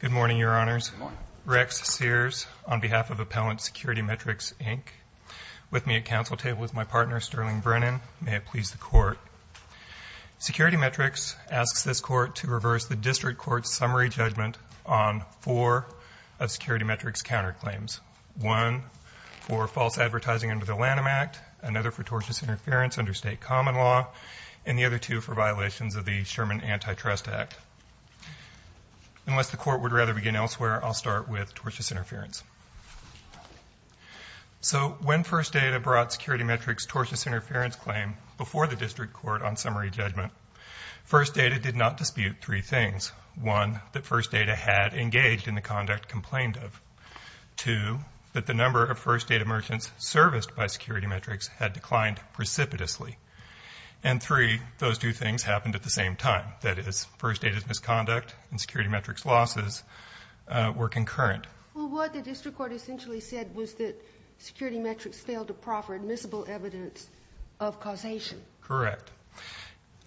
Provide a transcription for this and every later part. Good morning, Your Honors. Rex Sears, on behalf of Appellant SecurityMetrics, Inc., with me at council table with my partner, Sterling Brennan. May it please the Court. SecurityMetrics asks this Court to reverse the District Court's summary judgment on four of SecurityMetrics' counterclaims. One for false advertising under the Lanham Act, another for tortious interference under state common law, and the other two for violations of the Sherman Antitrust Act. Unless the Court would rather begin elsewhere, I'll start with tortious interference. So when First Data brought SecurityMetrics' tortious interference claim before the District Court on summary judgment, First Data did not dispute three things. One, that First Data had engaged in the conduct complained of. Two, that the number of First Data merchants serviced by SecurityMetrics had declined precipitously. And three, those two things happened at the same time. That is, First Data's misconduct and SecurityMetrics' losses were concurrent. Well, what the District Court essentially said was that SecurityMetrics failed to proffer admissible evidence of causation. Correct.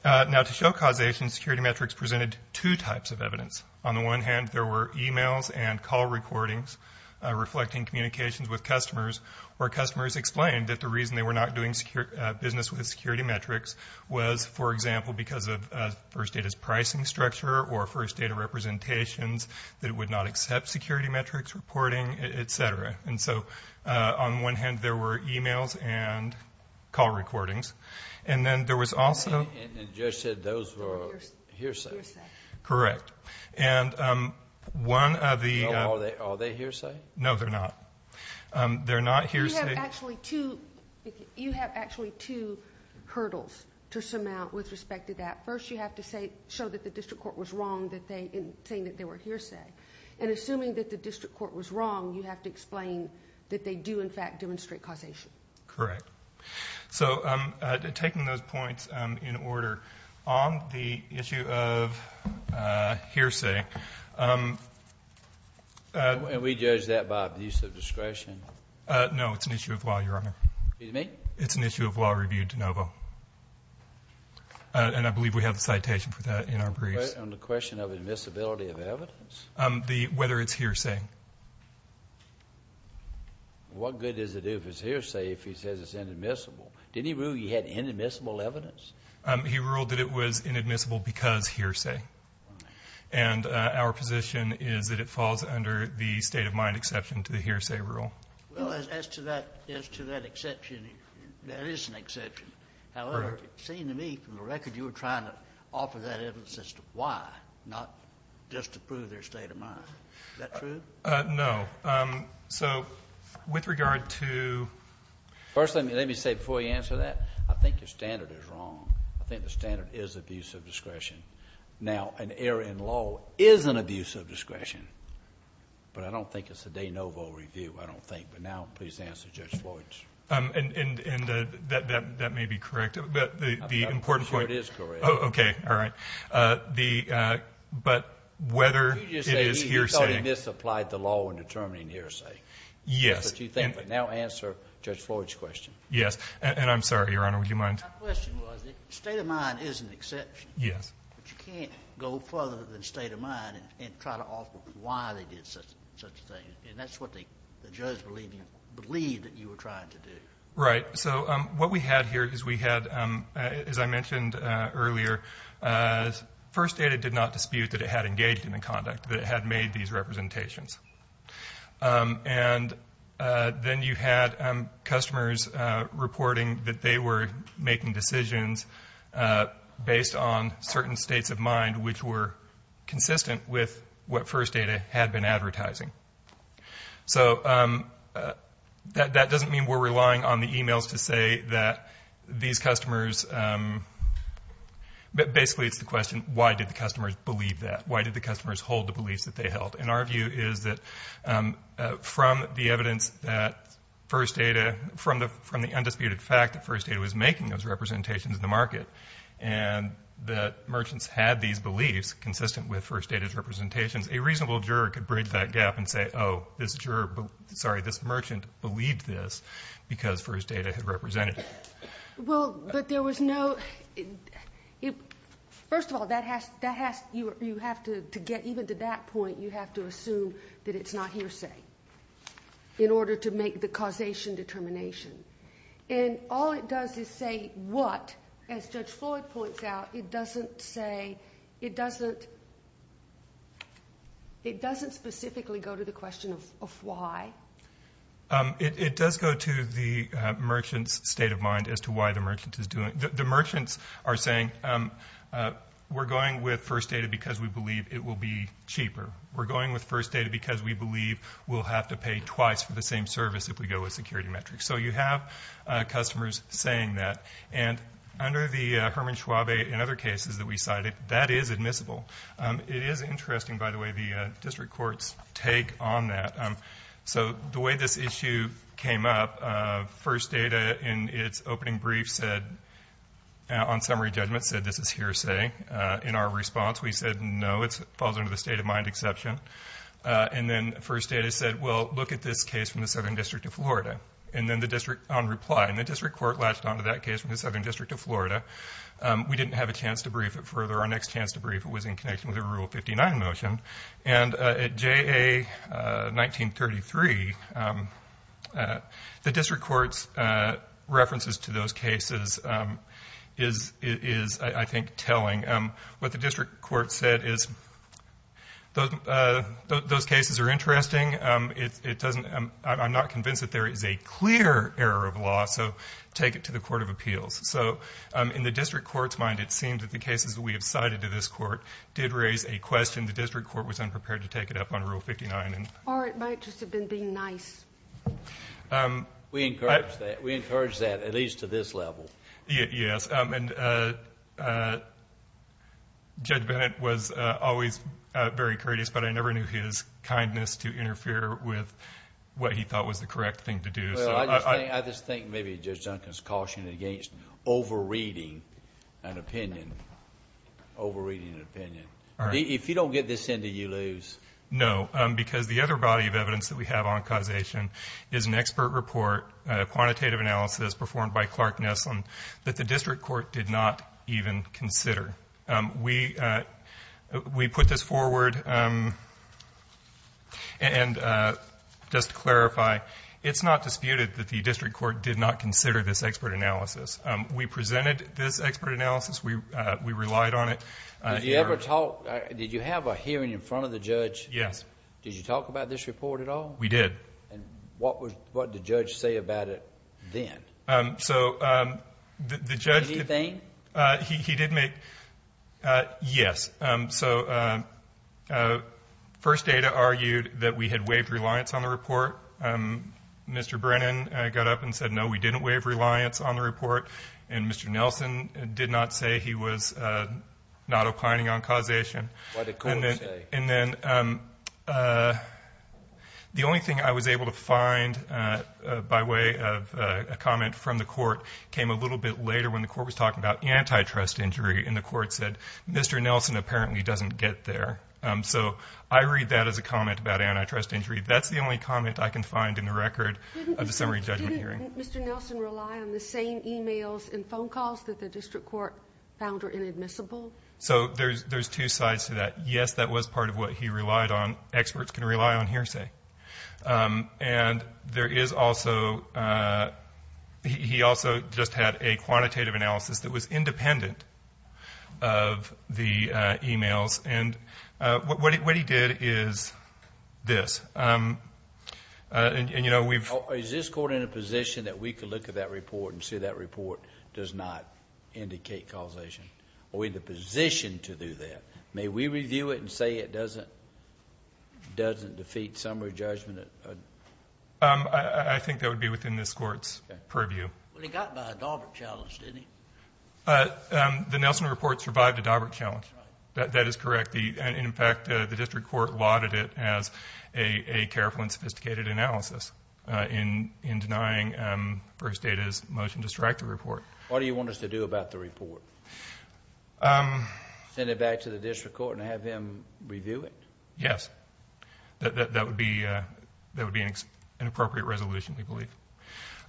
Now, to show causation, SecurityMetrics presented two types of evidence. On the one hand, there were e-mails and call recordings reflecting communications with customers, where customers explained that the reason they were not doing business with SecurityMetrics was, for example, because of First Data's pricing structure or First Data representations, that it would not accept SecurityMetrics' reporting, etc. And so, on one hand, there were e-mails and call recordings. And then there was also... And Judge said those were hearsay. Correct. And one of the... They're not hearsay... You have actually two hurdles to surmount with respect to that. First, you have to show that the District Court was wrong in saying that they were hearsay. And assuming that the District Court was wrong, you have to explain that they do, in fact, demonstrate causation. Correct. So, taking those points in order, on the issue of hearsay... And we judge that by abuse of discretion? No, it's an issue of law, Your Honor. Excuse me? It's an issue of law reviewed de novo. And I believe we have a citation for that in our briefs. On the question of admissibility of evidence? Whether it's hearsay. What good does it do if it's hearsay if he says it's inadmissible? Didn't he rule he had inadmissible evidence? He ruled that it was inadmissible because hearsay. And our position is that it falls under the state-of-mind exception to the hearsay rule. Well, as to that exception, that is an exception. However, it seemed to me, from the record, you were trying to offer that evidence as to why, not just to prove their state of mind. Is that true? No. So, with regard to... First, let me say before you answer that, I think your standard is wrong. I think the standard is abuse of discretion. Now, an error in law is an abuse of discretion. But I don't think it's a de novo review, I don't think. But now, please answer Judge Floyd's. That may be correct. I'm sure it is correct. Okay. All right. But whether it is hearsay... You just said you thought he misapplied the law in determining hearsay. Yes. But you think... now answer Judge Floyd's question. Yes. And I'm sorry, Your Honor, would you mind... My question was, the state of mind is an exception. Yes. But you can't go further than the state of mind and try to offer why they did such a thing. And that's what the judge believed that you were trying to do. Right. So, what we had here is we had, as I mentioned earlier, first data did not dispute that it had engaged in the conduct, that it had made these representations. And then you had customers reporting that they were making decisions based on certain states of mind which were consistent with what first data had been advertising. So, that doesn't mean we're relying on the emails to say that these customers... basically, it's the question, why did the customers believe that? Why did the customers hold the beliefs that they held? And our view is that from the evidence that first data... from the undisputed fact that first data has representations in the market and that merchants had these beliefs consistent with first data's representations, a reasonable juror could bridge that gap and say, oh, this merchant believed this because first data had represented it. Well, but there was no... first of all, that has... you have to get even to that point, you have to assume that it's not hearsay in order to make the decision as to what... as Judge Floyd points out, it doesn't say... it doesn't... it doesn't specifically go to the question of why. It does go to the merchant's state of mind as to why the merchant is doing... the merchants are saying, we're going with first data because we believe it will be cheaper. We're going with first data because we believe we'll have to pay twice for the same service if we go with security metrics. So, you have customers saying that. And under the Hermann-Schwabe and other cases that we cited, that is admissible. It is interesting, by the way, the district courts take on that. So, the way this issue came up, first data in its opening brief said... on summary judgment said this is hearsay. In our response, we said, no, it falls under the state of mind exception. And then first data said, well, look at this case from the Southern District of Florida. And then the district on reply. And the district court latched on to that case from the Southern District of Florida. We didn't have a chance to brief it further. Our next chance to brief it was in connection with a Rule 59 motion. And at JA 1933, the district court's references to those cases is, I think, telling. What the district court said is, those cases are interesting. It doesn't... I'm not convinced that there is a clear error of law. So, take it to the Court of Appeals. So, in the district court's mind, it seems that the cases that we have cited to this court did raise a question. The district court was unprepared to take it up on Rule 59. Or it might just have been being nice. We encourage that. We encourage that, at least to this level. Yes. And Judge Bennett was always very courteous, but I never knew his kindness to interfere with what he thought was the correct thing to do. I just think maybe Judge Duncan is cautioning against over-reading an opinion. Over-reading an opinion. If you don't get this in, do you lose? No, because the other body of evidence that we have on causation is an expert report, a quantitative analysis performed by Clark Nesslin, that the district court did not even consider. We put this forward. And just to clarify, it's not disputed that the district court did not consider this expert analysis. We presented this expert analysis. We relied on it. Did you have a hearing in front of the judge? Yes. Did you talk about this report at all? We did. What did the judge say about it then? So, the judge... Anything? He did make... Yes. So, First Data argued that we had waived reliance on the report. Mr. Brennan got up and said, no, we didn't waive reliance on the report. And Mr. Nelson did not say he was not opining on causation. What did the court say? And then, the only thing I was able to read in the report came a little bit later when the court was talking about antitrust injury. And the court said, Mr. Nelson apparently doesn't get there. So, I read that as a comment about antitrust injury. That's the only comment I can find in the record of the summary judgment hearing. Didn't Mr. Nelson rely on the same emails and phone calls that the district court found were inadmissible? So, there's two sides to that. Yes, that was part of what he relied on. Experts can rely on hearsay. And he also just had a quantitative analysis that was independent of the emails. And what he did is this. Is this court in a position that we could look at that report and see that report does not indicate causation? Are we in the position to do that? May we review it and say it doesn't defeat summary judgment? I think that would be within this court's purview. Well, he got by a Daubert challenge, didn't he? The Nelson report survived a Daubert challenge. That is correct. In fact, the district court lauded it as a careful and sophisticated analysis in denying First Data's motion to strike the report. What do you want us to do about the report? Um, send it back to the district court and have him review it. Yes, that would be, uh, that would be an appropriate resolution, we believe.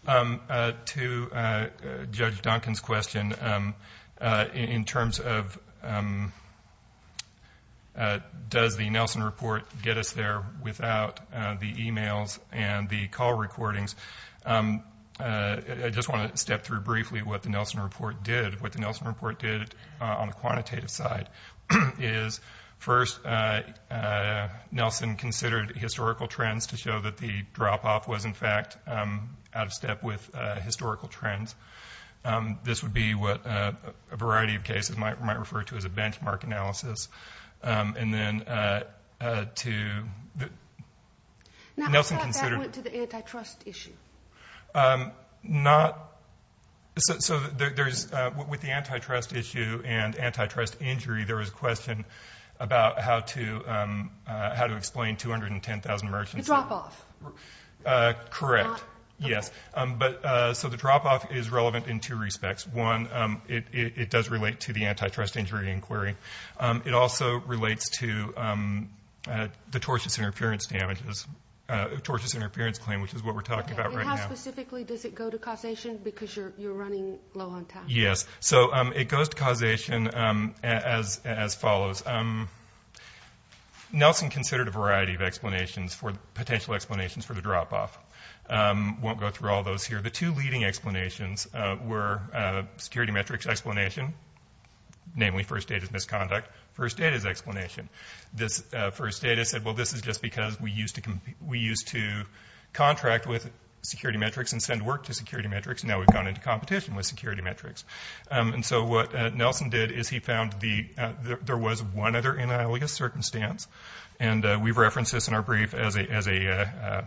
Um, to, uh, Judge Duncan's question, um, uh, in terms of, um, uh, does the Nelson report get us there without the emails and the call recordings? Um, I just want to step through briefly what the Nelson report did. What the Nelson report did on the quantitative side is first, uh, Nelson considered historical trends to show that the drop off was in fact, um, out of step with historical trends. Um, this would be what a variety of cases might might refer to as a benchmark analysis. Um, and then, uh, to the Nelson considered to the antitrust issue. Um, not so. So there's with the antitrust issue and antitrust injury. There was a question about how to, um, how to explain 210,000 merchants drop off. Uh, correct. Yes. Um, but so the drop off is relevant in two respects. One, it does relate to the antitrust injury inquiry. Um, it also relates to, um, uh, the tortious interference damages, uh, tortious interference claim, which is what we're talking about right now. Specifically, does it go to causation? Because you're running low on time. Yes. So it goes to causation. Um, as as follows. Um, Nelson considered a variety of explanations for potential explanations for the drop off. Um, won't go through all those here. The two leading explanations were security metrics explanation, namely first date is misconduct. First date is because we used to we used to contract with security metrics and send work to security metrics. Now we've gone into competition with security metrics. And so what Nelson did is he found the there was one other analogous circumstance, and we've referenced this in our brief as a as a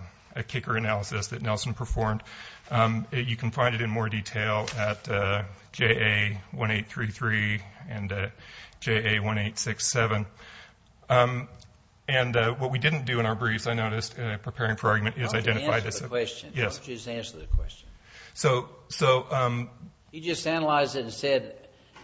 kicker analysis that Nelson performed. You can find it in more detail at J. A. 1833 and J. A. 1867. Um, and what we didn't do in our briefs, I noticed preparing for argument is identified as a question. Yes, just answer the question. So so, um, you just analyze it and said,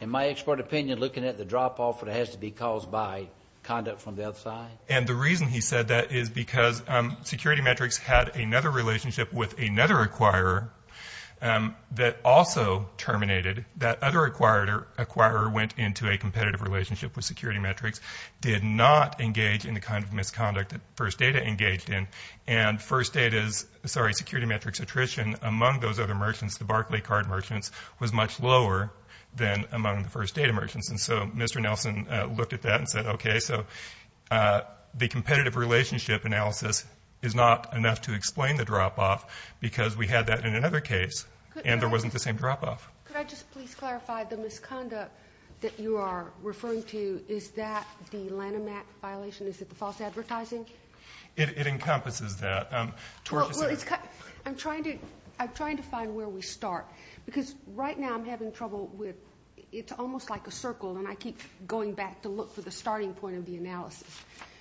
in my expert opinion, looking at the drop off, it has to be caused by conduct from the outside. And the reason he said that is because security metrics had another relationship with another acquirer, um, that also terminated that other acquired or acquirer went into a security metrics did not engage in the kind of misconduct that first data engaged in. And first date is sorry. Security metrics attrition among those other merchants. The Barclay card merchants was much lower than among the first day of merchants. And so, Mr Nelson looked at that and said, Okay, so, uh, the competitive relationship analysis is not enough to explain the drop off because we had that in another case, and there wasn't the same drop off. Could I just please clarify the misconduct that you are referring to? Is that the Lanham Act violation? Is it the false advertising? It encompasses that I'm trying to. I'm trying to find where we start because right now I'm having trouble with. It's almost like a circle, and I keep going back to look for the starting point of the analysis.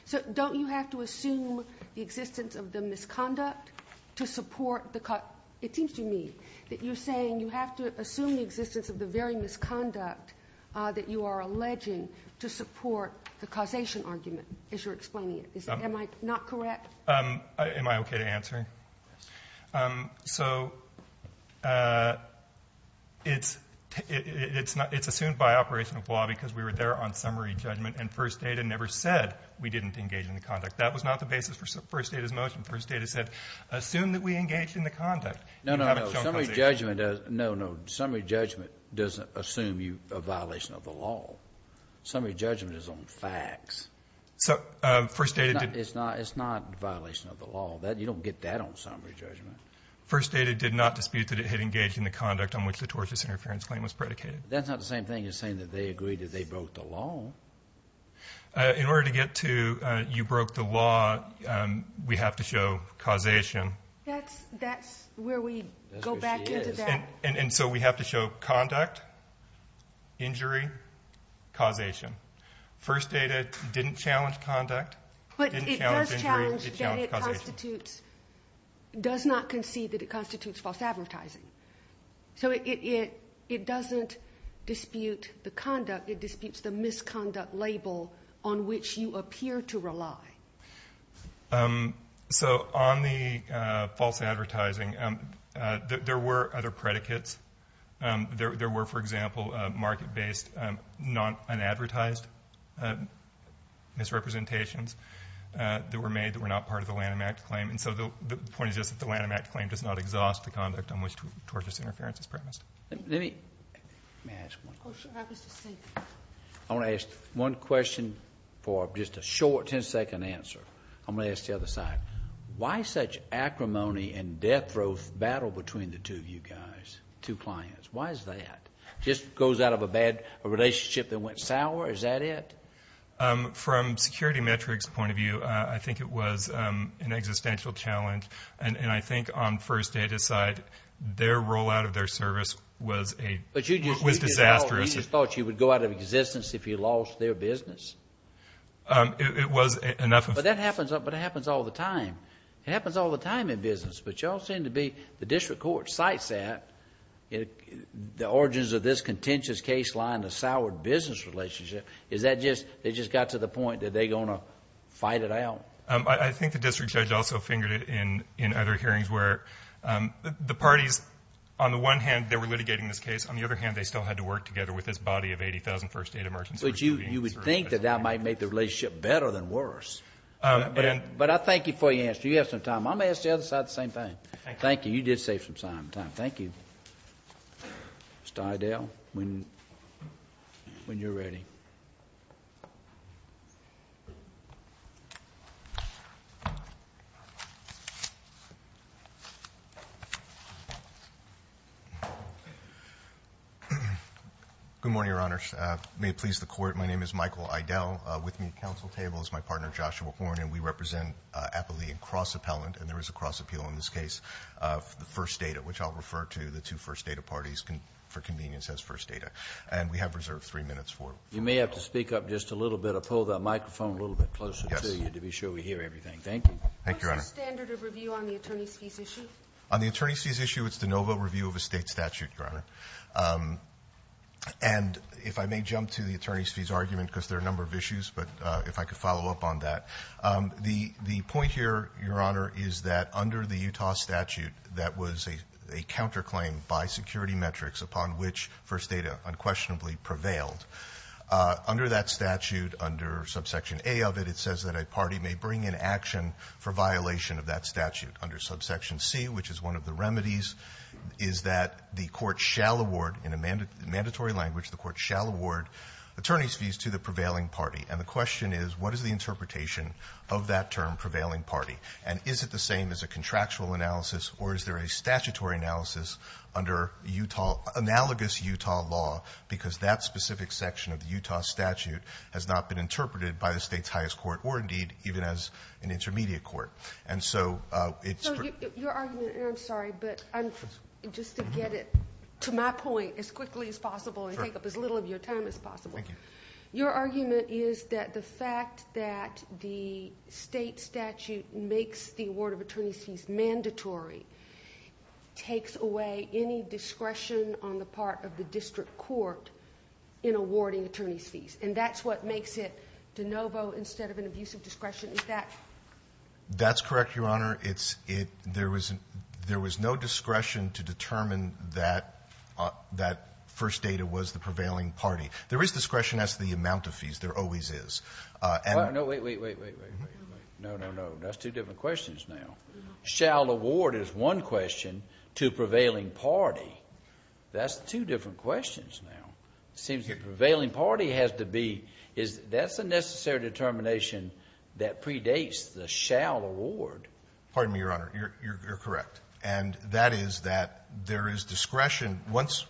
So don't you have to assume the existence of the misconduct to support the cut? It seems to me that you're have to assume the existence of the very misconduct that you are alleging to support the causation argument is you're explaining it. Am I not correct? Um, am I okay to answer? Um, so, uh, it's it's not. It's assumed by operational flaw because we were there on summary judgment and first data never said we didn't engage in the conduct. That was not the basis for first. It is motion. First data said. Assume that we engaged in the conduct. No, no, no, no, no, no, no. Summary judgment doesn't assume you a violation of the law. Summary judgment is on facts. So, uh, first data. It's not. It's not a violation of the law that you don't get that on summary judgment. First data did not dispute that it had engaged in the conduct on which the tortious interference claim was predicated. That's not the same thing as saying that they agreed that they broke the law in order to get to. You broke the law. We have to show causation. That's that's where we go back into that. And so we have to show conduct injury causation. First data didn't challenge conduct, but it does challenge constitutes, does not concede that it constitutes false advertising. So it doesn't dispute the conduct. It disputes the misconduct label on which you appear to rely. Um, so on the false advertising, um, there were other predicates. Um, there were, for example, market based, um, not an advertised, uh, misrepresentations that were made that were not part of the Lanham Act claim. And so the point is just that the Lanham Act claim does not exhaust the conduct on which tortuous interference is premised. Let me ask one question. I want to ask one question for just a short 10 second answer. I'm gonna ask the other side. Why such acrimony and death throat battle between the two of you guys, two clients? Why is that? Just goes out of a bad relationship that went sour. Is that it? Um, from security metrics point of view, I think it was an existential challenge. And was a disastrous thought you would go out of existence if you lost their business. Um, it was enough. But that happens. But it happens all the time. It happens all the time in business. But y'all seem to be the district court sites at the origins of this contentious case line. The soured business relationship. Is that just they just got to the point that they gonna fight it out? I think the district judge also fingered it in in other hearings where the parties on the one hand, they were litigating this case. On the other hand, they still had to work together with his body of 80,000 first aid emergency. But you you would think that that might make the relationship better than worse. But I thank you for your answer. You have some time. I'm asked the other side the same thing. Thank you. You did save some time. Thank you. Stardale when when you're ready. Mhm. Mhm. Good morning, Your Honor. May it please the court. My name is Michael Idel with me. Council table is my partner, Joshua Horn, and we represent happily and cross appellant. And there is a cross appeal in this case of the first data, which I'll refer to the two first data parties for convenience as first data. And we have reserved three minutes for you may have to speak up just a little bit of pull that microphone a little bit closer to you to be sure we hear everything. Thank you. Thank you. Standard of review on the on the attorney's fees issue. It's de novo review of a state statute, Your Honor. Um, and if I may jump to the attorney's fees argument because there are a number of issues. But if I could follow up on that, the point here, Your Honor, is that under the Utah statute, that was a counterclaim by security metrics upon which first data unquestionably prevailed. Under that statute, under subsection a of it, it says that a party may bring in action for violation of that statute under subsection C, which is one of the remedies, is that the court shall award in a mandatory language, the court shall award attorney's fees to the prevailing party. And the question is, what is the interpretation of that term prevailing party? And is it the same as a contractual analysis? Or is there a statutory analysis under Utah analogous Utah law? Because that specific section of the Utah statute has not been interpreted by the state's intermediate court. And so, uh, it's your argument. I'm sorry, but I'm just to get it to my point as quickly as possible and take up as little of your time as possible. Thank you. Your argument is that the fact that the state statute makes the award of attorney's fees mandatory takes away any discretion on the part of the district court in awarding attorney's fees. And that's what makes it de novo instead of an abusive discretion. Is that correct? That's correct, Your Honor. It's it. There was there was no discretion to determine that that first data was the prevailing party. There is discretion as the amount of fees there always is. Uh, no, wait, wait, wait, wait, wait, wait, wait, wait. No, no, no. That's two different questions. Now shall award is one question to prevailing party. That's two different questions. Now seems the prevailing party has to be is that's a necessary determination that predates the shall award. Pardon me, Your Honor. You're correct. And that is that there is discretion. Once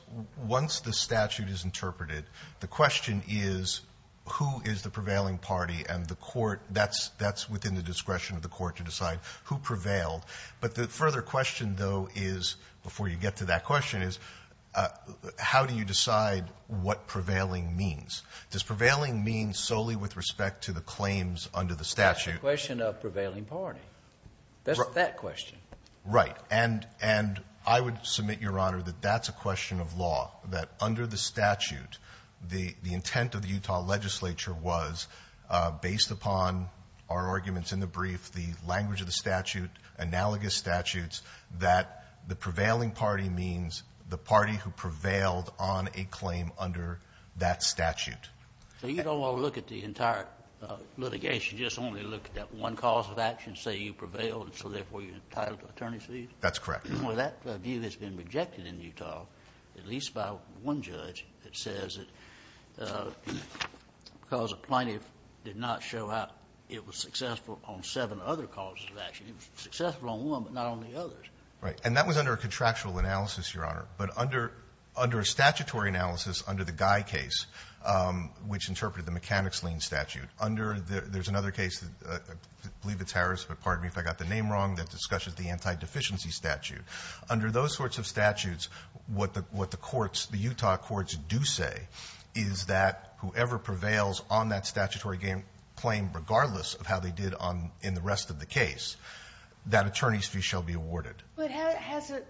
once the statute is interpreted, the question is, who is the prevailing party and the court? That's that's within the discretion of the court to decide who prevailed. But the further question, though, is before you get to that question is, uh, how do you decide what prevailing means? Does prevailing mean solely with respect to the claims under the statute? Question of prevailing party. That's that question, right? And and I would submit, Your Honor, that that's a question of law that under the statute, the intent of the Utah legislature was based upon our arguments in the brief, the language of the statute, analogous statutes that the prevailed on a claim under that statute. So you don't want to look at the entire litigation, just only look at that one cause of action, say you prevailed, and so therefore you're entitled to attorney's leave. That's correct. Well, that view has been rejected in Utah, at least about one judge that says that, uh, because a plaintiff did not show up, it was successful on seven other causes of action. It was successful on one, but not on the others. Right. And that was under a contractual analysis, Your Honor. But under under a statutory analysis, under the Guy case, which interpreted the mechanics lien statute, under the there's another case, I believe it's Harris, but pardon me if I got the name wrong, that discusses the anti-deficiency statute. Under those sorts of statutes, what the what the courts, the Utah courts do say is that whoever prevails on that statutory claim, regardless of how they did on in the rest of the case, that attorney's fee shall be awarded. But has it,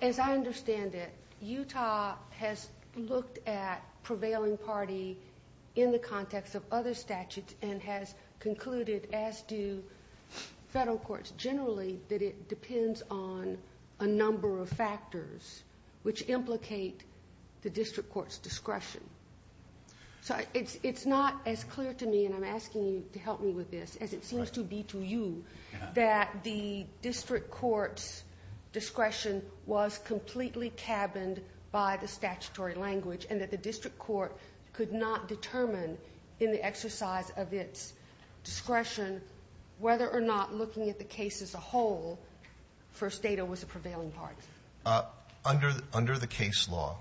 as I understand it, Utah has looked at prevailing party in the context of other statutes and has concluded, as do federal courts generally, that it depends on a number of factors which implicate the district court's discretion. So it's not as clear to me, and I'm asking you to help me with this, as it seems to be to you, that the district court's discretion was completely cabined by the statutory language and that the district court could not determine in the exercise of its discretion, whether or not looking at the case as a whole, first data was a prevailing party. Under the case law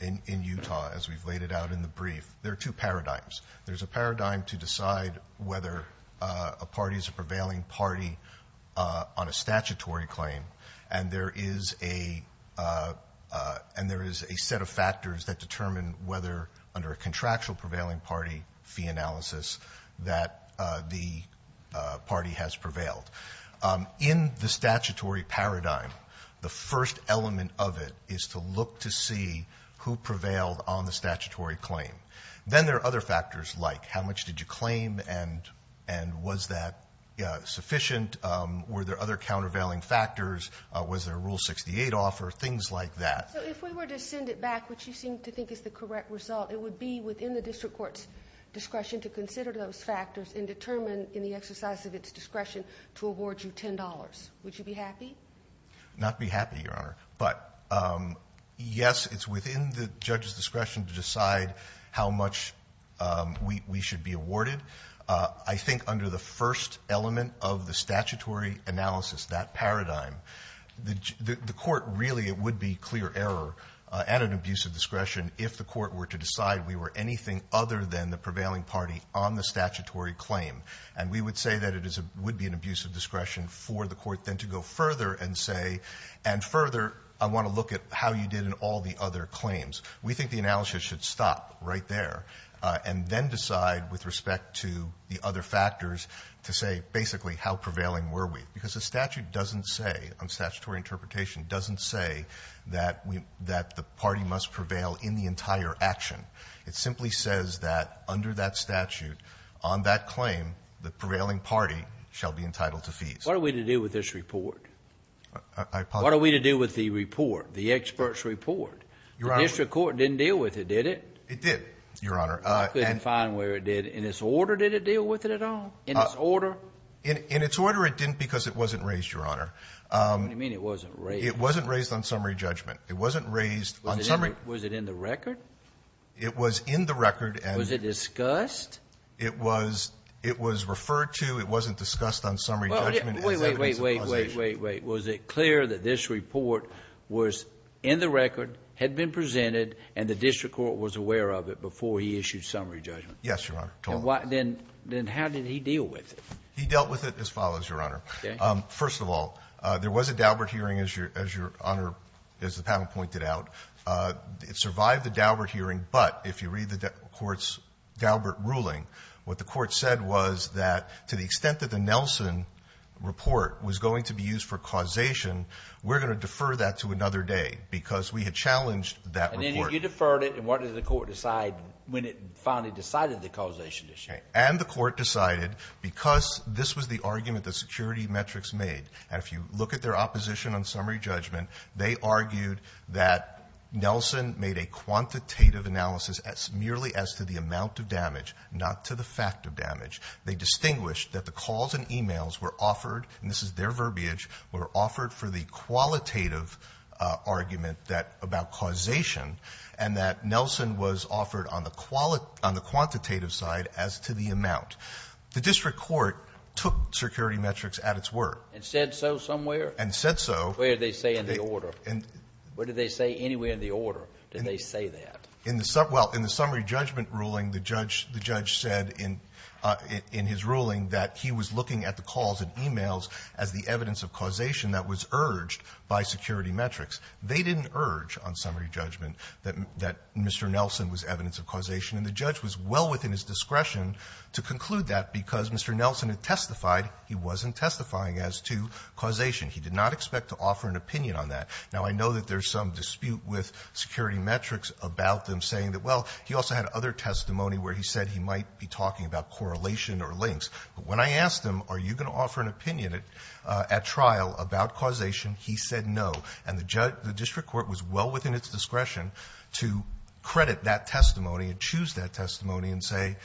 in Utah, as we've laid it out in the brief, there are two parties, a prevailing party on a statutory claim, and there is a set of factors that determine whether, under a contractual prevailing party fee analysis, that the party has prevailed. In the statutory paradigm, the first element of it is to look to see who prevailed on the statutory claim. Then there are other factors. Was the statutory claim and was that sufficient? Were there other countervailing factors? Was there a Rule 68 offer? Things like that. So if we were to send it back, which you seem to think is the correct result, it would be within the district court's discretion to consider those factors and determine, in the exercise of its discretion, to award you $10. Would you be happy? Not be happy, Your Honor. But yes, it's within the judge's discretion to decide how much we should be awarded. I think under the first element of the statutory analysis, that paradigm, the court really, it would be clear error and an abuse of discretion if the court were to decide we were anything other than the prevailing party on the statutory claim. And we would say that it would be an abuse of discretion for the court then to go further and say, and further, I want to look at how you did in all the other claims. We think the analysis should stop right there, and then decide with respect to the other factors to say basically how prevailing were we. Because the statute doesn't say, on statutory interpretation, doesn't say that we, that the party must prevail in the entire action. It simply says that under that statute, on that claim, the prevailing party shall be entitled to fees. What are we to do with this report? I apologize. What are we to do with the report, the expert's report? Your Honor. The district court didn't deal with it, did it? It did, Your Honor. I couldn't find where it did. In its order, did it deal with it at all? In its order? In its order, it didn't because it wasn't raised, Your Honor. What do you mean it wasn't raised? It wasn't raised on summary judgment. It wasn't raised on summary. Was it in the record? It was in the record. Was it discussed? It was referred to. It wasn't discussed on summary judgment as evidence of causation. Wait, wait, wait, wait, wait. Was it clear that this report was in the record, had been presented, and the district court was aware of it before he issued summary judgment? Yes, Your Honor. Then how did he deal with it? He dealt with it as follows, Your Honor. Okay. First of all, there was a Daubert hearing, as Your Honor, as the panel pointed out. It survived the Daubert hearing, but if you read the court's Daubert ruling, what the court said was that to the extent that the Nelson report was going to be used for causation, we're going to defer that to another day because we had challenged that report. And then you deferred it, and what did the court decide when it finally decided the causation issue? And the court decided, because this was the argument the security metrics made, and if you look at their opposition on summary judgment, they argued that Nelson made a quantitative analysis merely as to the amount of damage, not to the fact of damage. They distinguished that the calls and e-mails were offered, and this is their verbiage, were offered for the qualitative argument that about causation, and that Nelson was offered on the qualitative side as to the amount. The district court took security metrics at its word. And said so somewhere? And said so. Where did they say in the order? What did they say anywhere in the order did they say that? In the summary judgment ruling, the judge said in his ruling that he was looking at the calls and e-mails as the evidence of causation that was urged by security metrics. They didn't urge on summary judgment that Mr. Nelson was evidence of causation, and the judge was well within his discretion to conclude that because Mr. Nelson had testified he wasn't testifying as to causation. He did not expect to offer an opinion on that. Now, I know that there's some dispute with security metrics about them saying that, well, he also had other testimony where he said he might be talking about correlation or links. But when I asked him, are you going to offer an opinion at trial about causation, he said no. And the district court was well within its discretion to credit that testimony and choose that testimony and say,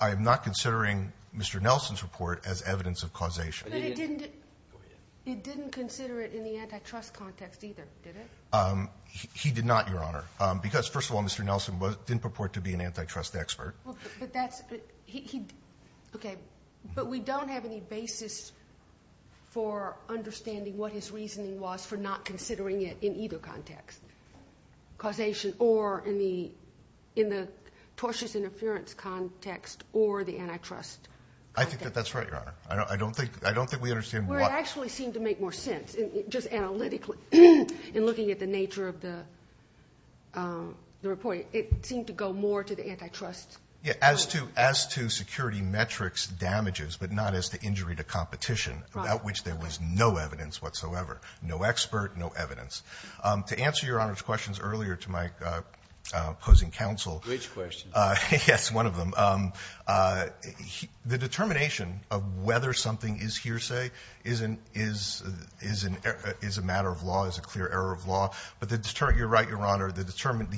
I am not considering Mr. Nelson's report as evidence of causation. But it didn't consider it in the antitrust context either, did it? He did not, Your Honor. Because, first of all, Mr. Nelson didn't purport to be an antitrust expert. Okay. But we don't have any basis for understanding what his reasoning was for not considering it in either context, causation or in the tortious interference context or the antitrust context. I think that that's right, Your Honor. I don't think we understand why. Well, it actually seemed to make more sense, just analytically, in looking at the nature of the report. It seemed to go more to the antitrust. Yeah, as to security metrics damages, but not as to injury to competition, about which there was no evidence whatsoever, no expert, no evidence. To answer Your Honor's questions earlier to my opposing counsel. Which questions? Yes, one of them. The determination of whether something is hearsay is a matter of law, is a clear error of law. But you're right, Your Honor. The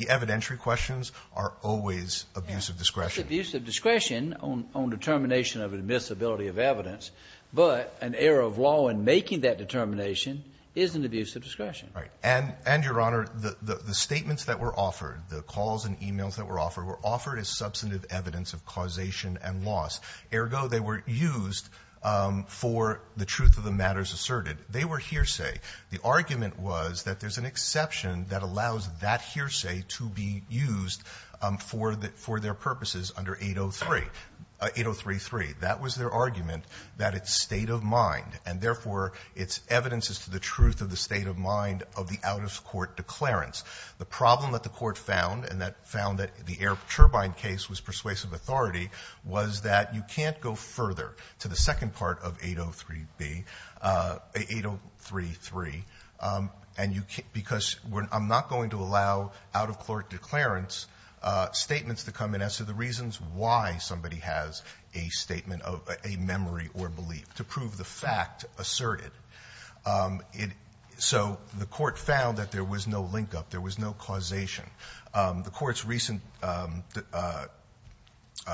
evidentiary questions are always abuse of discretion. It's abuse of discretion on determination of admissibility of evidence. But an error of law in making that determination is an abuse of discretion. Right. And, Your Honor, the statements that were offered, the calls and emails that were offered, is substantive evidence of causation and loss. Ergo, they were used for the truth of the matters asserted. They were hearsay. The argument was that there's an exception that allows that hearsay to be used for their purposes under 803. 8033. That was their argument, that it's state of mind. And, therefore, it's evidence as to the truth of the state of mind of the out-of-court declarants. The problem that the Court found, and that found that the air turbine case was persuasive authority, was that you can't go further to the second part of 803B, 8033, because I'm not going to allow out-of-court declarants statements to come in as to the reasons why somebody has a statement of a memory or belief, to prove the fact asserted. So the Court found that there was no link-up. There was no causation. The Court's recent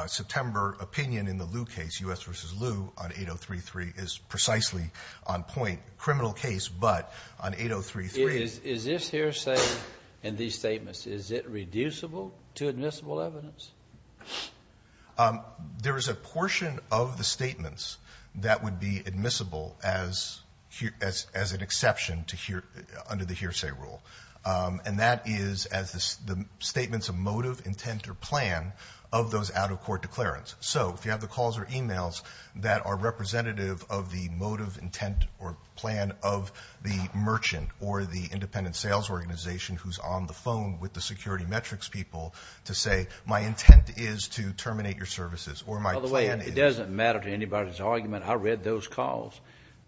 September opinion in the Lew case, U.S. v. Lew on 8033, is precisely on point. Criminal case, but on 8033. It is. Is this hearsay in these statements, is it reducible to admissible evidence? There is a portion of the statements that would be admissible as an exception under the hearsay rule, and that is as the statements of motive, intent or plan of those out-of-court declarants. So if you have the calls or e-mails that are representative of the motive, intent or plan of the merchant or the independent sales organization who's on the phone with the security metrics people to say, my intent is to terminate your services or my plan is... By the way, it doesn't matter to anybody's argument. I read those calls.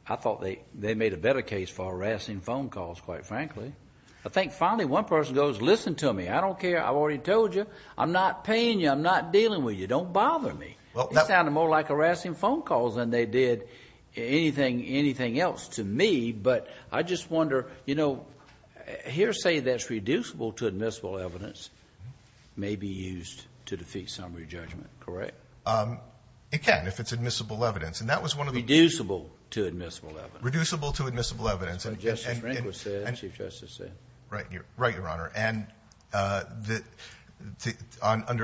I thought they made a better case for harassing phone calls, quite frankly. I think finally one person goes, listen to me. I don't care. I've already told you. I'm not paying you. I'm not dealing with you. Don't bother me. It sounded more like harassing phone calls than they did anything else to me. But I just wonder, you know, hearsay that's reducible to admissible evidence may be used to defeat summary judgment, correct? It can if it's admissible evidence. And that was one of the... Reducible to admissible evidence. Reducible to admissible evidence. That's what Justice Rehnquist said, Chief Justice said. Right, Your Honor. And under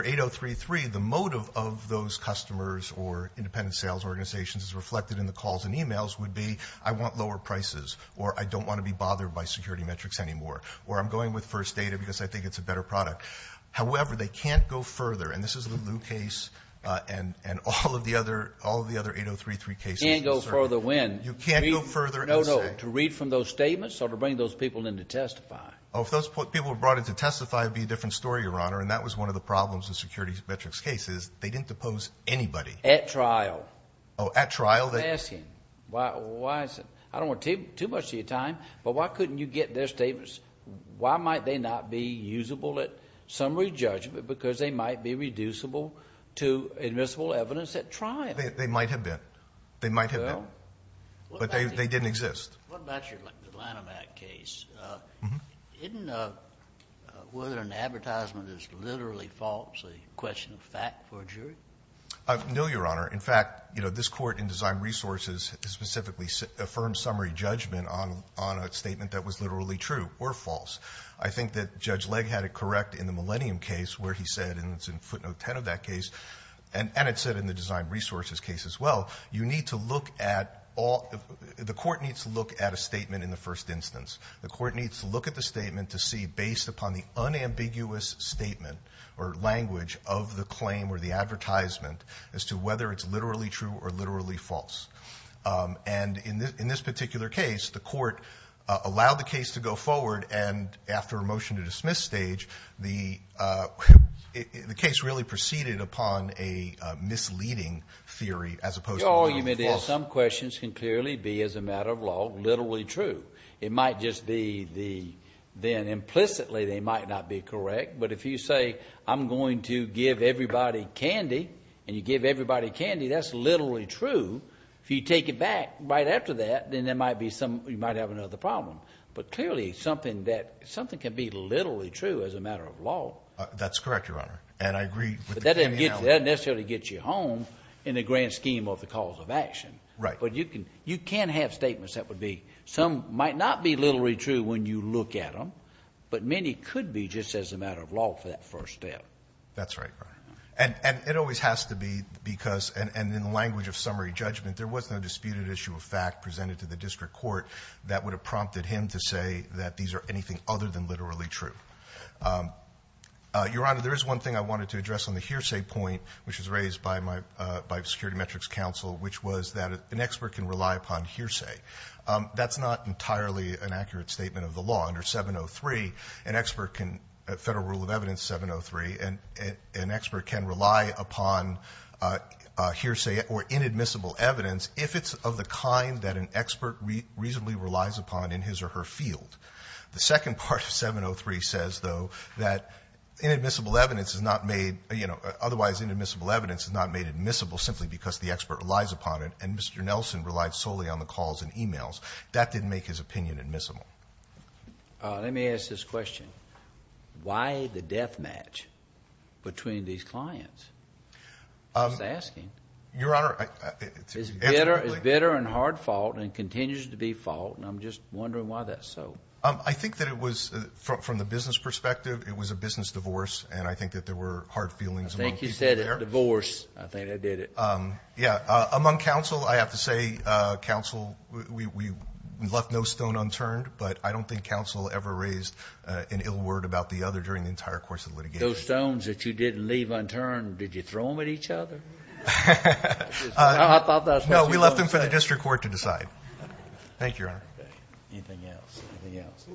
8033, the motive of those customers or independent sales organizations reflected in the calls and emails would be I want lower prices or I don't want to be bothered by security metrics anymore or I'm going with first data because I think it's a better product. However, they can't go further, and this is the Lew case and all of the other 8033 cases. You can't go further when? You can't go further and say. No, no. To read from those statements or to bring those people in to testify? Oh, if those people were brought in to testify, it would be a different story, Your Honor. And that was one of the problems with security metrics cases. They didn't depose anybody. At trial. Oh, at trial. Ask him. I don't want to take too much of your time, but why couldn't you get their statements? Why might they not be usable at summary judgment because they might be reducible to admissible evidence at trial? They might have been. They might have been. But they didn't exist. What about your Lanham Act case? Isn't whether an advertisement is literally false a question of fact for a jury? No, Your Honor. In fact, you know, this court in Design Resources specifically affirmed summary judgment on a statement that was literally true or false. I think that Judge Legg had it correct in the Millennium case where he said, and it's in footnote 10 of that case, and it said in the Design Resources case as well, you need to look at all the court needs to look at a statement in the first instance. The court needs to look at the statement to see based upon the unambiguous statement or language of the claim or the advertisement as to whether it's literally true or literally false. And in this particular case, the court allowed the case to go forward, and after a motion to dismiss stage, the case really proceeded upon a misleading theory as opposed to one that was false. Your argument is some questions can clearly be, as a matter of law, literally true. It might just be then implicitly they might not be correct. But if you say, I'm going to give everybody candy, and you give everybody candy, that's literally true. If you take it back right after that, then there might be some, you might have another problem. But clearly something that, something can be literally true as a matter of law. That's correct, Your Honor, and I agree. But that doesn't necessarily get you home in the grand scheme of the cause of action. Right. But you can have statements that would be, some might not be literally true when you look at them, but many could be just as a matter of law for that first step. That's right, Your Honor. And it always has to be because, and in the language of summary judgment, there was no disputed issue of fact presented to the district court that would have prompted him to say that these are anything other than literally true. Your Honor, there is one thing I wanted to address on the hearsay point, which was raised by my, by Security Metrics Counsel, which was that an expert can rely upon hearsay. That's not entirely an accurate statement of the law. Under 703, an expert can, Federal Rule of Evidence 703, an expert can rely upon hearsay or inadmissible evidence if it's of the kind that an expert reasonably relies upon in his or her field. The second part of 703 says, though, that inadmissible evidence is not made, you know, otherwise inadmissible evidence is not made admissible simply because the expert relies upon it. And Mr. Nelson relied solely on the calls and emails. That didn't make his opinion admissible. Let me ask this question. Why the death match between these clients? I'm just asking. Your Honor. It's bitter and hard fault and continues to be fault. And I'm just wondering why that's so. I think that it was, from the business perspective, it was a business divorce. And I think that there were hard feelings among people there. I think you said divorce. I think I did it. Yeah. Among counsel, I have to say, counsel, we left no stone unturned. But I don't think counsel ever raised an ill word about the other during the entire course of the litigation. Those stones that you didn't leave unturned, did you throw them at each other? I thought that was what you were going to say. No, we left them for the district court to decide. Thank you, Your Honor. Anything else? Anything else?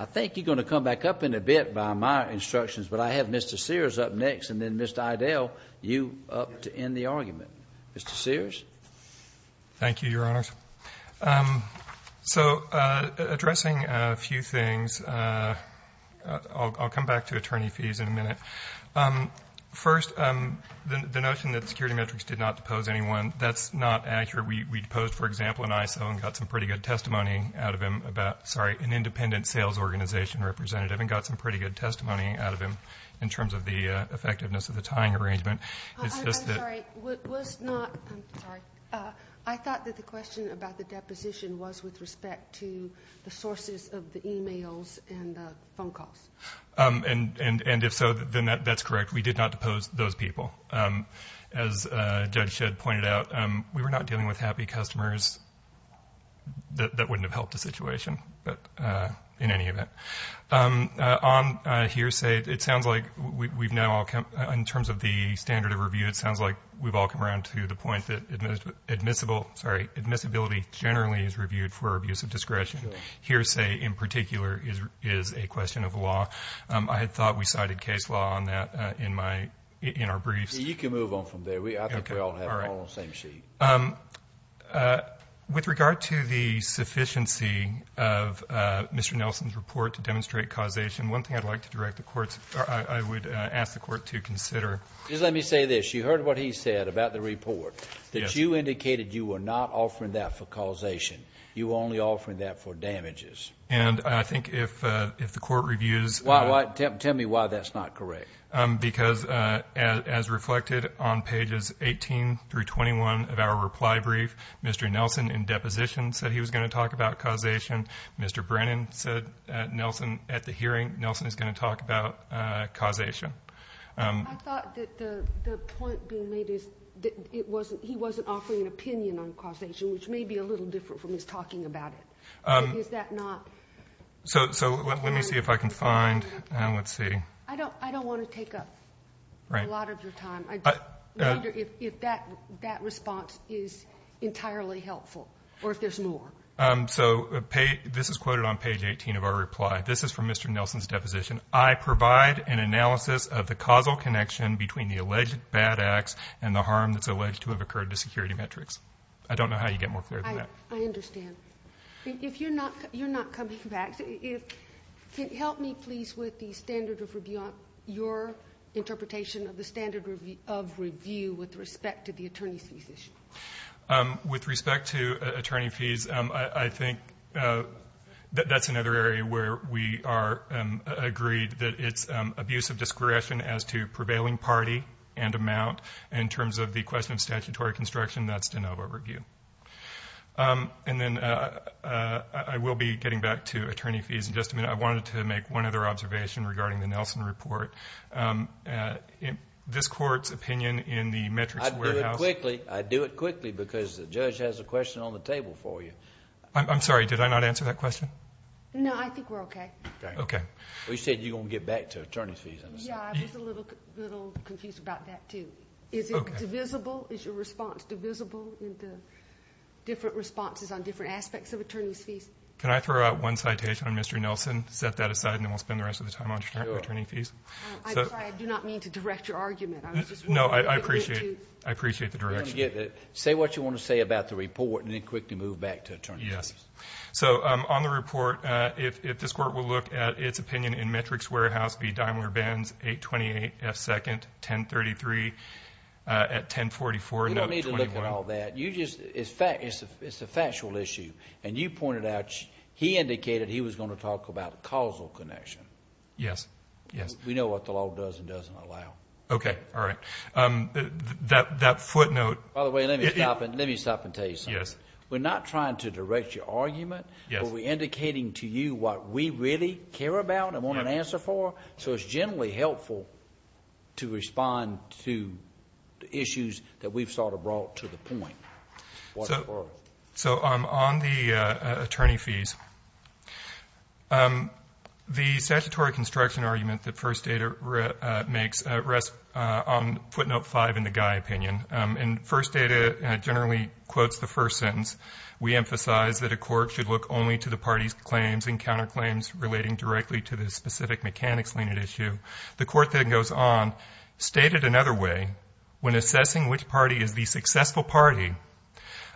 I think you're going to come back up in a bit by my instructions, but I have Mr. Sears up next and then Mr. Idell, you up to end the argument. Mr. Sears? Thank you, Your Honors. So, addressing a few things, I'll come back to attorney fees in a minute. First, the notion that security metrics did not depose anyone, that's not accurate. We deposed, for example, an ISO and got some pretty good testimony out of him about, sorry, an independent sales organization representative and got some pretty good of the tying arrangement. I'm sorry, I thought that the question about the deposition was with respect to the sources of the e-mails and the phone calls. And if so, then that's correct. We did not depose those people. As Judge Shedd pointed out, we were not dealing with happy customers. That wouldn't have helped the situation in any event. On hearsay, it sounds like we've now all come, in terms of the standard of review, it sounds like we've all come around to the point that admissible, sorry, admissibility generally is reviewed for abuse of discretion. Hearsay, in particular, is a question of law. I had thought we cited case law on that in our briefs. You can move on from there. I think we all have it on the same sheet. With regard to the sufficiency of Mr. Nelson's report to demonstrate causation, one thing I'd like to direct the courts, or I would ask the court to consider. Just let me say this. You heard what he said about the report, that you indicated you were not offering that for causation. You were only offering that for damages. And I think if the court reviews. Tell me why that's not correct. Because as reflected on pages 18 through 21 of our reply brief, Mr. Nelson in deposition said he was going to talk about causation. Mr. Brennan said at the hearing, Nelson is going to talk about causation. I thought that the point being made is that he wasn't offering an opinion on causation, which may be a little different from his talking about it. Is that not? So let me see if I can find. Let's see. I don't want to take up a lot of your time. I wonder if that response is entirely helpful or if there's more. So this is quoted on page 18 of our reply. This is from Mr. Nelson's deposition. I provide an analysis of the causal connection between the alleged bad acts and the harm that's alleged to have occurred to security metrics. I don't know how you get more clear than that. I understand. You're not coming back. Help me, please, with the standard of review, your interpretation of the standard of review with respect to the attorney fees issue. With respect to attorney fees, I think that's another area where we are agreed that it's abuse of discretion as to prevailing party and amount. In terms of the question of statutory construction, that's de novo review. And then I will be getting back to attorney fees in just a minute. I wanted to make one other observation regarding the Nelson report. This court's opinion in the metrics warehouse... I'd do it quickly because the judge has a question on the table for you. I'm sorry. Did I not answer that question? No. I think we're okay. Okay. You said you're going to get back to attorney fees. Yeah. I was a little confused about that, too. Is it divisible? Is your response divisible in the different responses on different aspects of attorney fees? Can I throw out one citation on Mr. Nelson, set that aside, and then we'll spend the rest of the time on attorney fees? I'm sorry. I do not mean to direct your argument. No. I appreciate the direction. Say what you want to say about the report and then quickly move back to attorney fees. Yes. So on the report, if this court will look at its opinion in metrics warehouse, it must be Daimler-Benz 828F2nd 1033 at 1044. You don't need to look at all that. It's a factual issue, and you pointed out he indicated he was going to talk about causal connection. Yes. We know what the law does and doesn't allow. Okay. All right. That footnote... By the way, let me stop and tell you something. We're not trying to direct your argument, but we're indicating to you what we really care about and want an answer for, so it's generally helpful to respond to the issues that we've sort of brought to the point. So on the attorney fees, the statutory construction argument that First Data makes rests on footnote 5 in the Guy opinion, and First Data generally quotes the first sentence. We emphasize that a court should look only to the party's claims and counterclaims relating directly to the specific mechanics lien at issue. The court then goes on, stated another way, when assessing which party is the successful party,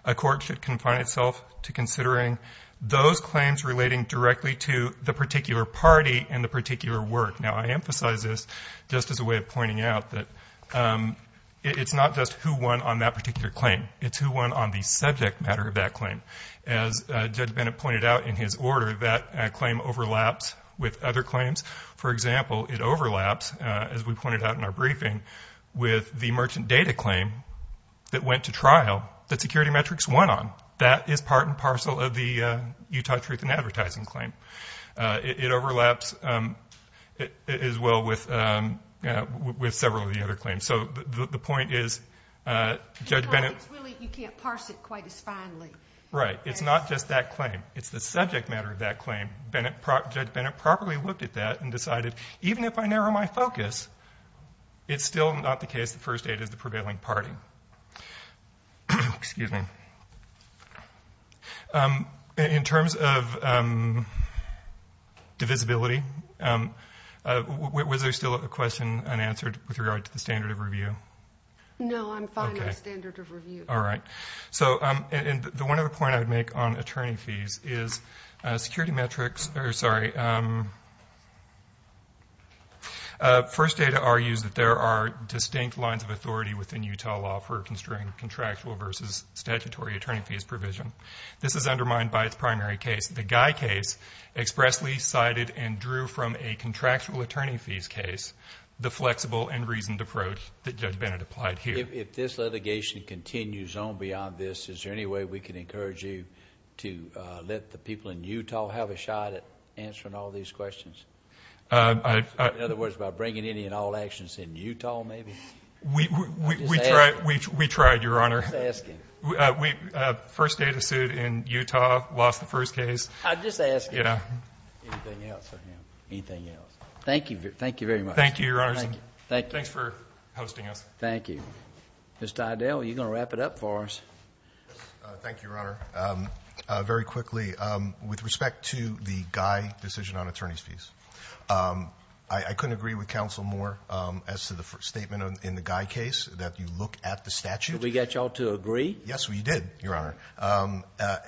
a court should confine itself to considering those claims relating directly to the particular party and the particular work. Now, I emphasize this just as a way of pointing out that it's not just who won on that particular claim. It's who won on the subject matter of that claim. As Judge Bennett pointed out in his order, that claim overlaps with other claims. For example, it overlaps, as we pointed out in our briefing, with the merchant data claim that went to trial that Security Metrics won on. That is part and parcel of the Utah Truth in Advertising claim. It overlaps as well with several of the other claims. So the point is, Judge Bennett. You can't parse it quite as finely. Right. It's not just that claim. It's the subject matter of that claim. Judge Bennett properly looked at that and decided, even if I narrow my focus, it's still not the case that First Data is the prevailing party. Excuse me. In terms of divisibility, was there still a question unanswered with regard to the standard of review? No, I'm fine with standard of review. All right. So the one other point I would make on attorney fees is First Data argues that there are distinct lines of authority within Utah law for construing contractual versus statutory attorney fees provision. This is undermined by its primary case. The Guy case expressly cited and drew from a contractual attorney fees case the flexible and reasoned approach that Judge Bennett applied here. If this litigation continues on beyond this, is there any way we can encourage you to let the people in Utah have a shot at answering all these questions? In other words, by bringing any and all actions in Utah, maybe? We tried, Your Honor. First Data sued in Utah, lost the first case. I'm just asking. Anything else for him? Anything else? Thank you very much. Thank you, Your Honor. Thanks for hosting us. Thank you. Mr. Idell, you're going to wrap it up for us. Thank you, Your Honor. Very quickly, with respect to the Guy decision on attorney's fees, I couldn't agree with counsel more as to the statement in the Guy case that you look at the statute. Did we get you all to agree? Yes, we did, Your Honor.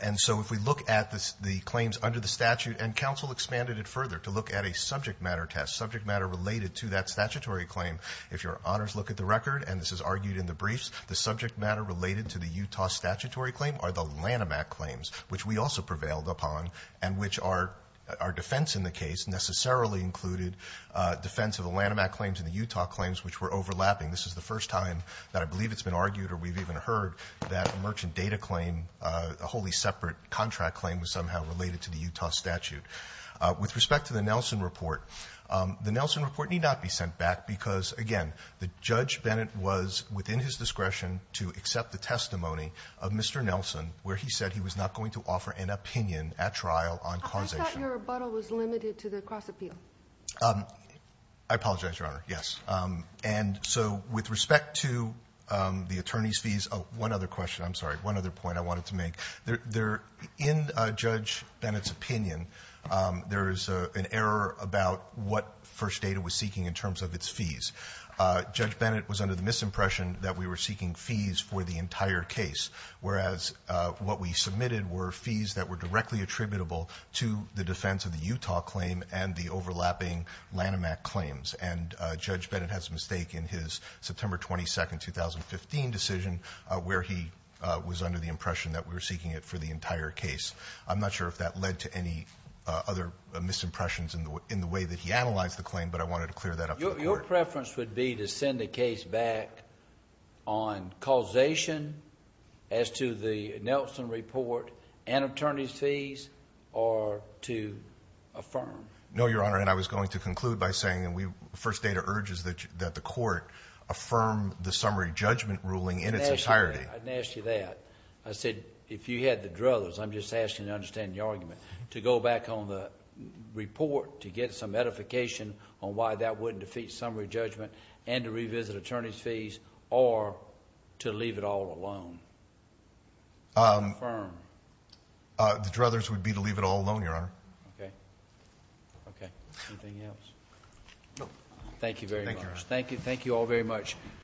And so if we look at the claims under the statute, and counsel expanded it further to look at a subject matter test, subject matter related to that statutory claim. If Your Honors look at the record, and this is argued in the briefs, the subject matter related to the Utah statutory claim are the Lanham Act claims, which we also prevailed upon, and which our defense in the case necessarily included defense of the Lanham Act claims and the Utah claims, which were overlapping. This is the first time that I believe it's been argued, or we've even heard that a merchant data claim, a wholly separate contract claim was somehow related to the Utah statute. With respect to the Nelson report, the Nelson report need not be sent back because, again, Judge Bennett was within his discretion to accept the testimony of Mr. Nelson, where he said he was not going to offer an opinion at trial on causation. I thought your rebuttal was limited to the cross-appeal. I apologize, Your Honor. Yes. And so with respect to the attorney's fees, one other question. I'm sorry. One other point I wanted to make. In Judge Bennett's opinion, there is an error about what First Data was seeking in terms of its fees. Judge Bennett was under the misimpression that we were seeking fees for the entire case, whereas what we submitted were fees that were directly attributable to the defense of the Utah claim and the overlapping Lanham Act claims. And Judge Bennett has a mistake in his September 22, 2015 decision, where he was under the impression that we were seeking it for the entire case. I'm not sure if that led to any other misimpressions in the way that he analyzed the claim, but I wanted to clear that up for the Court. Your preference would be to send the case back on causation as to the Nelson report and attorney's fees, or to affirm? No, Your Honor, and I was going to conclude by saying that First Data urges that the Court affirm the summary judgment ruling in its entirety. I didn't ask you that. I said, if you had the druthers, I'm just asking you to understand the argument. To go back on the report to get some edification on why that wouldn't defeat the summary judgment and to revisit attorney's fees, or to leave it all alone? Affirm? The druthers would be to leave it all alone, Your Honor. Okay. Okay. Anything else? No. Thank you very much. Thank you, Your Honor. Thank you all very much.